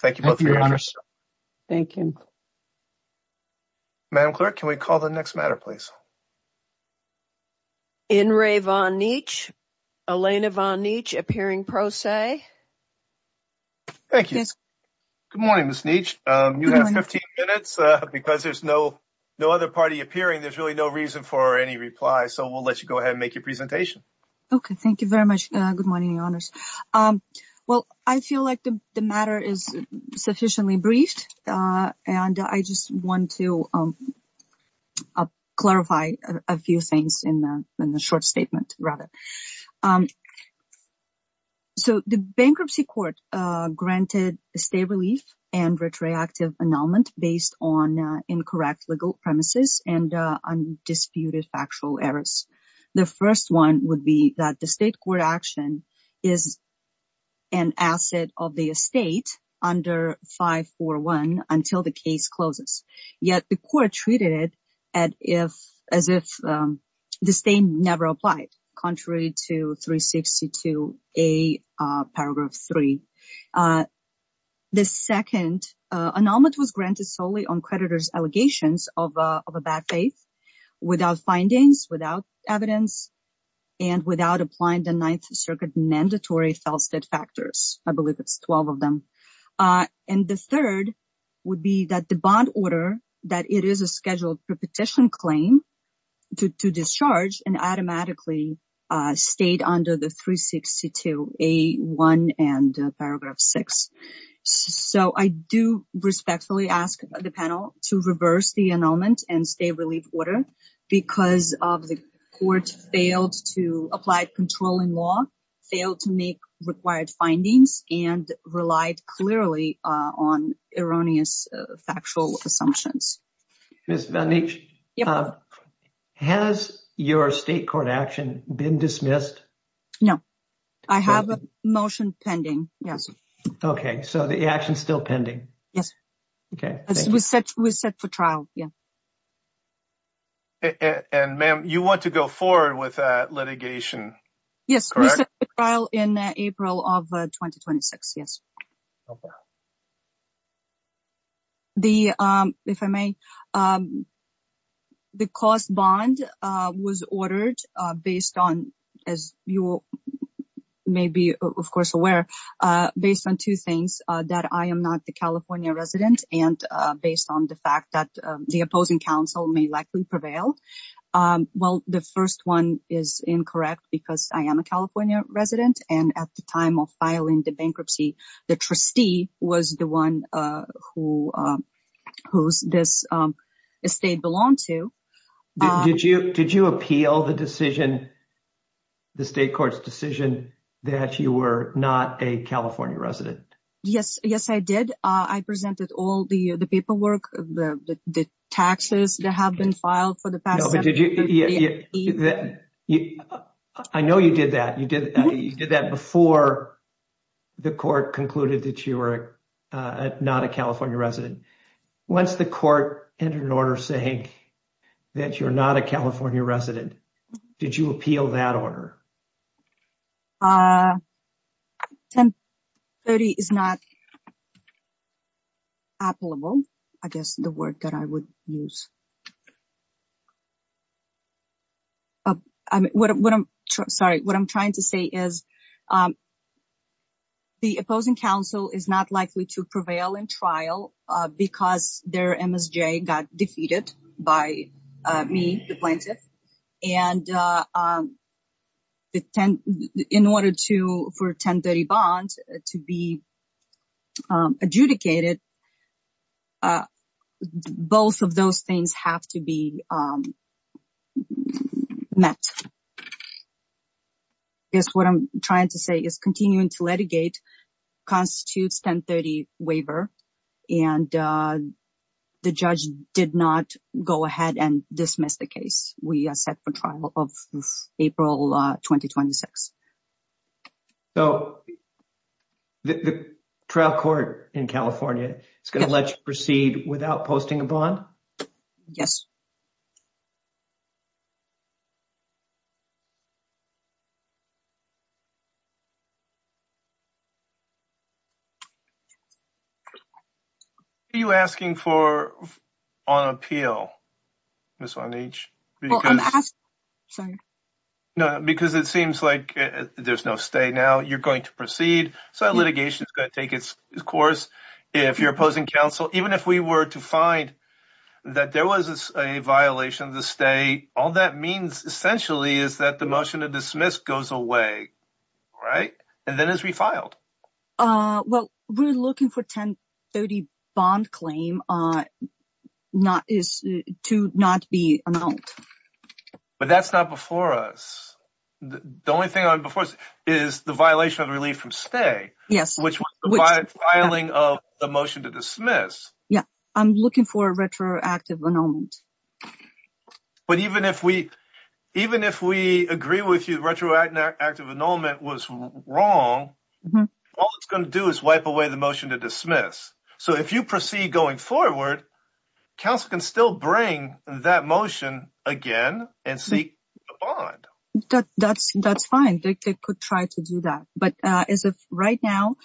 Thank you both for your interest. Thank you. Madam Clerk, can we call the next matter, please? In re Von Neitsch. Elena Von Neitsch, appearing pro se. Thank you. Good morning, Ms. Neitsch. You have 15 minutes. Because there's no other party appearing, there's really no reason for any reply. So we'll let you go ahead and make your presentation. Okay, thank you very much. Good morning, your honors. Well, I feel like the matter is sufficiently briefed. And I just want to clarify a few things in the short statement, rather. So the bankruptcy court granted a state relief and retroactive annulment based on incorrect legal premises and undisputed factual errors. The first one would be that the state court action is an asset of the estate under 541 until the case closes. Yet the court treated it as if the same never applied. Contrary to 362A paragraph 3. The second annulment was granted solely on creditor's allegations of a bad faith without findings, without evidence. And without applying the Ninth Circuit mandatory fell state factors. I believe it's 12 of them. And the third would be that the bond order that it is a scheduled petition claim to discharge and automatically stayed under the 362A1 and paragraph 6. So I do respectfully ask the panel to reverse the annulment and state relief order because of the court failed to apply controlling law, failed to make required findings and relied clearly on erroneous factual assumptions. Yes. Has your state court action been dismissed? I have a motion pending. Okay. So the action is still pending. Yes. Okay. We set for trial. Yeah. And ma'am, you want to go forward with litigation. Yes. In April of 2026. Yes. Okay. The, if I may, the cost bond was ordered based on, as you may be, of course, aware, based on two things that I am not the California resident and based on the fact that the opposing counsel may likely prevail. Well, the first one is incorrect because I am a California resident. And at the time of filing the bankruptcy, the trustee was the one who this estate belonged to. Did you appeal the decision, the state court's decision, that you were not a California resident? Yes. Yes, I did. I presented all the paperwork, the taxes that have been filed for the past seven years. I know you did that. You did that before the court concluded that you were not a California resident. Once the court entered an order saying that you're not a California resident, did you appeal that order? 1030 is not applicable. I guess the word that I would use. What I'm sorry, what I'm trying to say is. The opposing counsel is not likely to prevail in trial because their MSJ got defeated by me, the plaintiff. And in order to for 1030 bond to be adjudicated, both of those things have to be met. I guess what I'm trying to say is continuing to litigate constitutes 1030 waiver and the judge did not go ahead and dismiss the case. We are set for trial of April 2026. So the trial court in California is going to let you proceed without posting a bond? Yes. Are you asking for on appeal? This one each. No, because it seems like there's no state now you're going to proceed. So litigation is going to take its course. If you're opposing counsel, even if we were to find that there was a violation of the state, all that means essentially is that the motion to dismiss goes away. Right. And then as we filed. Well, we're looking for 1030 bond claim. Not is to not be. But that's not before us. The only thing I'm before is the violation of relief from stay. Yes, which filing of the motion to dismiss. Yeah, I'm looking for a retroactive annulment. But even if we, even if we agree with you retroactive active annulment was wrong. All it's going to do is wipe away the motion to dismiss. So if you proceed going forward. Council can still bring that motion again and see. That's, that's fine. They could try to do that. But as of right now,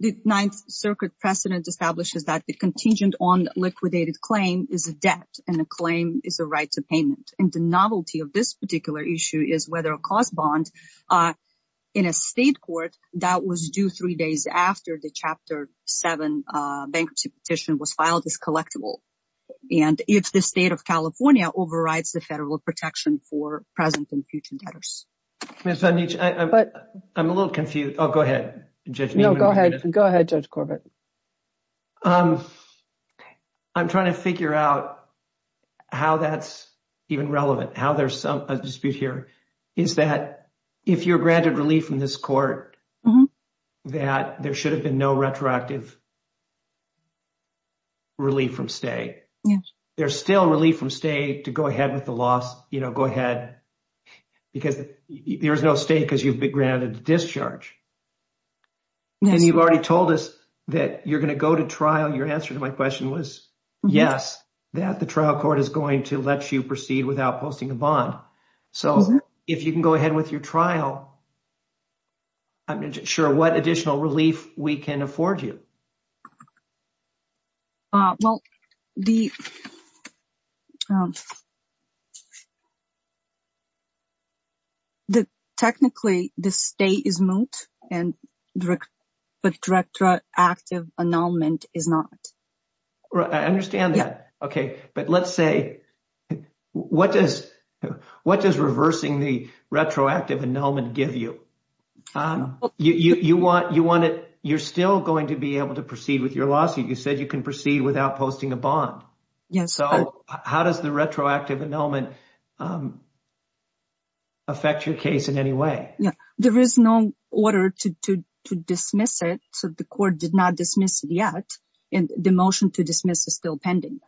the 9th circuit precedent establishes that the contingent on liquidated claim is a debt and a claim is a right to payment. And the novelty of this particular issue is whether a cost bond in a state court that was due 3 days after the chapter 7 bankruptcy petition was filed as collectible. And if the state of California overrides the federal protection for present and future. But I'm a little confused. Oh, go ahead. Go ahead. Go ahead. Judge Corbett. I'm trying to figure out how that's even relevant how there's some dispute here is that if you're granted relief from this court that there should have been no retroactive. Relief from stay. There's still relief from state to go ahead with the loss, you know, go ahead. Because there's no state because you've been granted discharge. And you've already told us that you're going to go to trial. Your answer to my question was, yes, that the trial court is going to let you proceed without posting a bond. So, if you can go ahead with your trial, I'm sure what additional relief we can afford you. Well, the. The technically the state is moot and direct. But director active annulment is not. I understand that. Okay, but let's say what does what does reversing the retroactive annulment give you. You want you want it. You're still going to be able to proceed with your lawsuit. You said you can proceed without posting a bond. Yes. So how does the retroactive annulment. Affect your case in any way. Yeah, there is no order to dismiss it. So the court did not dismiss it yet. And the motion to dismiss is still pending.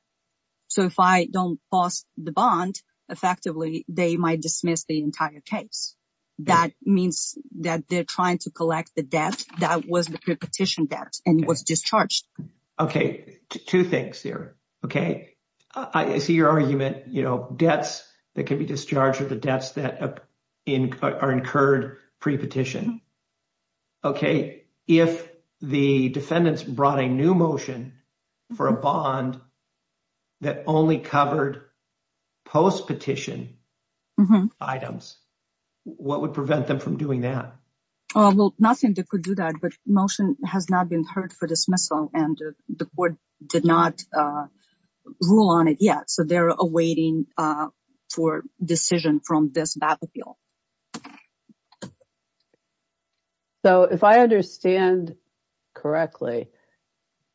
So, if I don't post the bond effectively, they might dismiss the entire case. That means that they're trying to collect the debt. That was the petition debt and was discharged. Okay, two things here. Okay. I see your argument, you know, debts that can be discharged with the debts that are incurred pre petition. Okay, if the defendants brought a new motion for a bond. That only covered post petition. Items, what would prevent them from doing that? Well, nothing that could do that, but motion has not been heard for dismissal and the court did not rule on it yet. So they're awaiting for decision from this battlefield. So, if I understand correctly.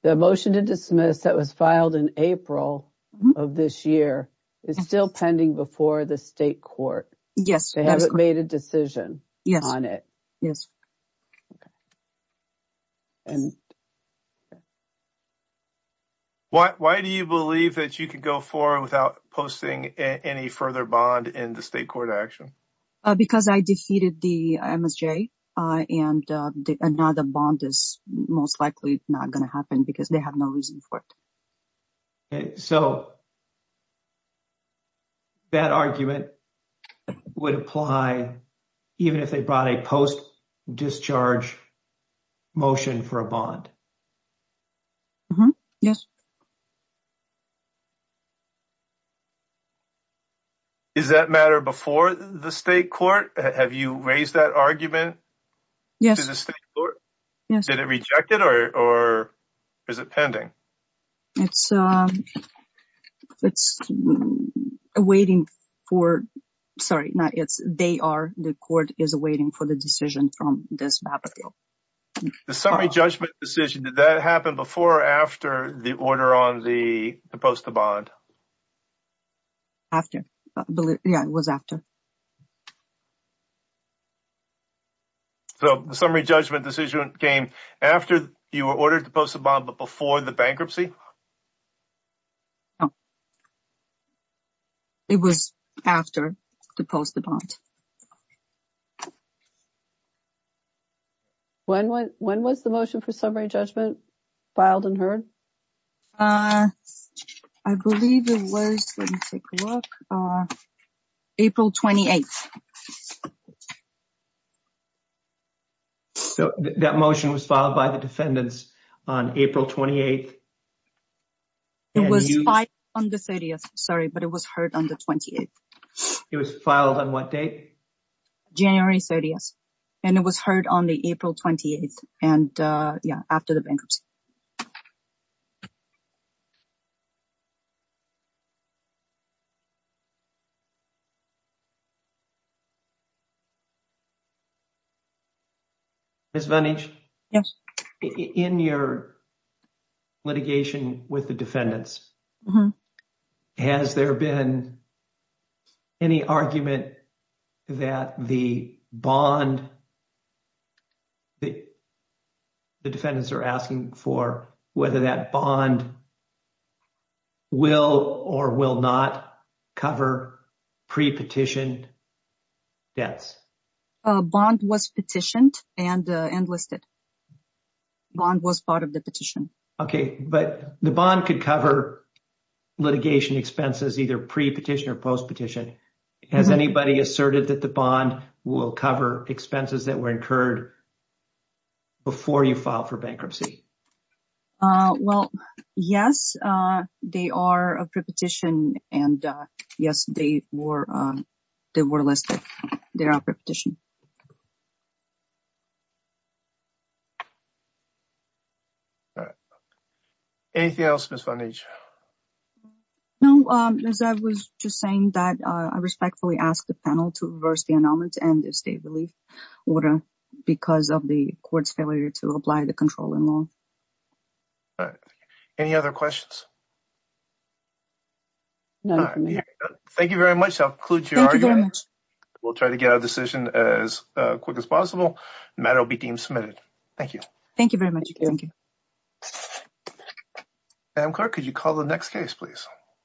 The motion to dismiss that was filed in April of this year is still pending before the state court. Yes. They haven't made a decision on it. Yes. And. Why do you believe that you could go for without posting any further bond in the state court action? Because I defeated the MSJ and another bond is most likely not going to happen because they have no reason for it. So. That argument would apply. Even if they brought a post discharge. Motion for a bond. Yes. Is that matter before the state court? Have you raised that argument? Yes, did it rejected or or. Is it pending it's it's waiting for. Sorry, not it's they are the court is waiting for the decision from this. The summary judgment decision that happened before or after the order on the post the bond. After, yeah, it was after. So, the summary judgment decision came after you were ordered to post a bomb, but before the bankruptcy. No, it was after the post the bond. When, when, when was the motion for summary judgment. Filed and heard, I believe it was. April 28. So, that motion was filed by the defendants on April 28. It was on the 30th. Sorry, but it was heard on the 28th. It was filed on what date January 30th. And it was heard on the April 28th. And, yeah, after the bankruptcy. Yes, in your litigation with the defendants. Has there been any argument that the bond. The defendants are asking for whether that bond. Will or will not cover pre petition. That's a bond was petitioned and enlisted. Bond was part of the petition. Okay, but the bond could cover. Litigation expenses, either pre petition or post petition. Has anybody asserted that the bond will cover expenses that were incurred. Before you file for bankruptcy. Well, yes, they are a petition and yes, they were. They were listed their petition. All right. Anything else? No, as I was just saying that. I respectfully ask the panel to reverse the announcements and the state. Because of the court's failure to apply the control in law. All right. Any other questions. No, thank you very much. I'll include your argument. We'll try to get a decision as quick as possible. Matter will be deemed submitted. Thank you. Thank you very much. Thank you.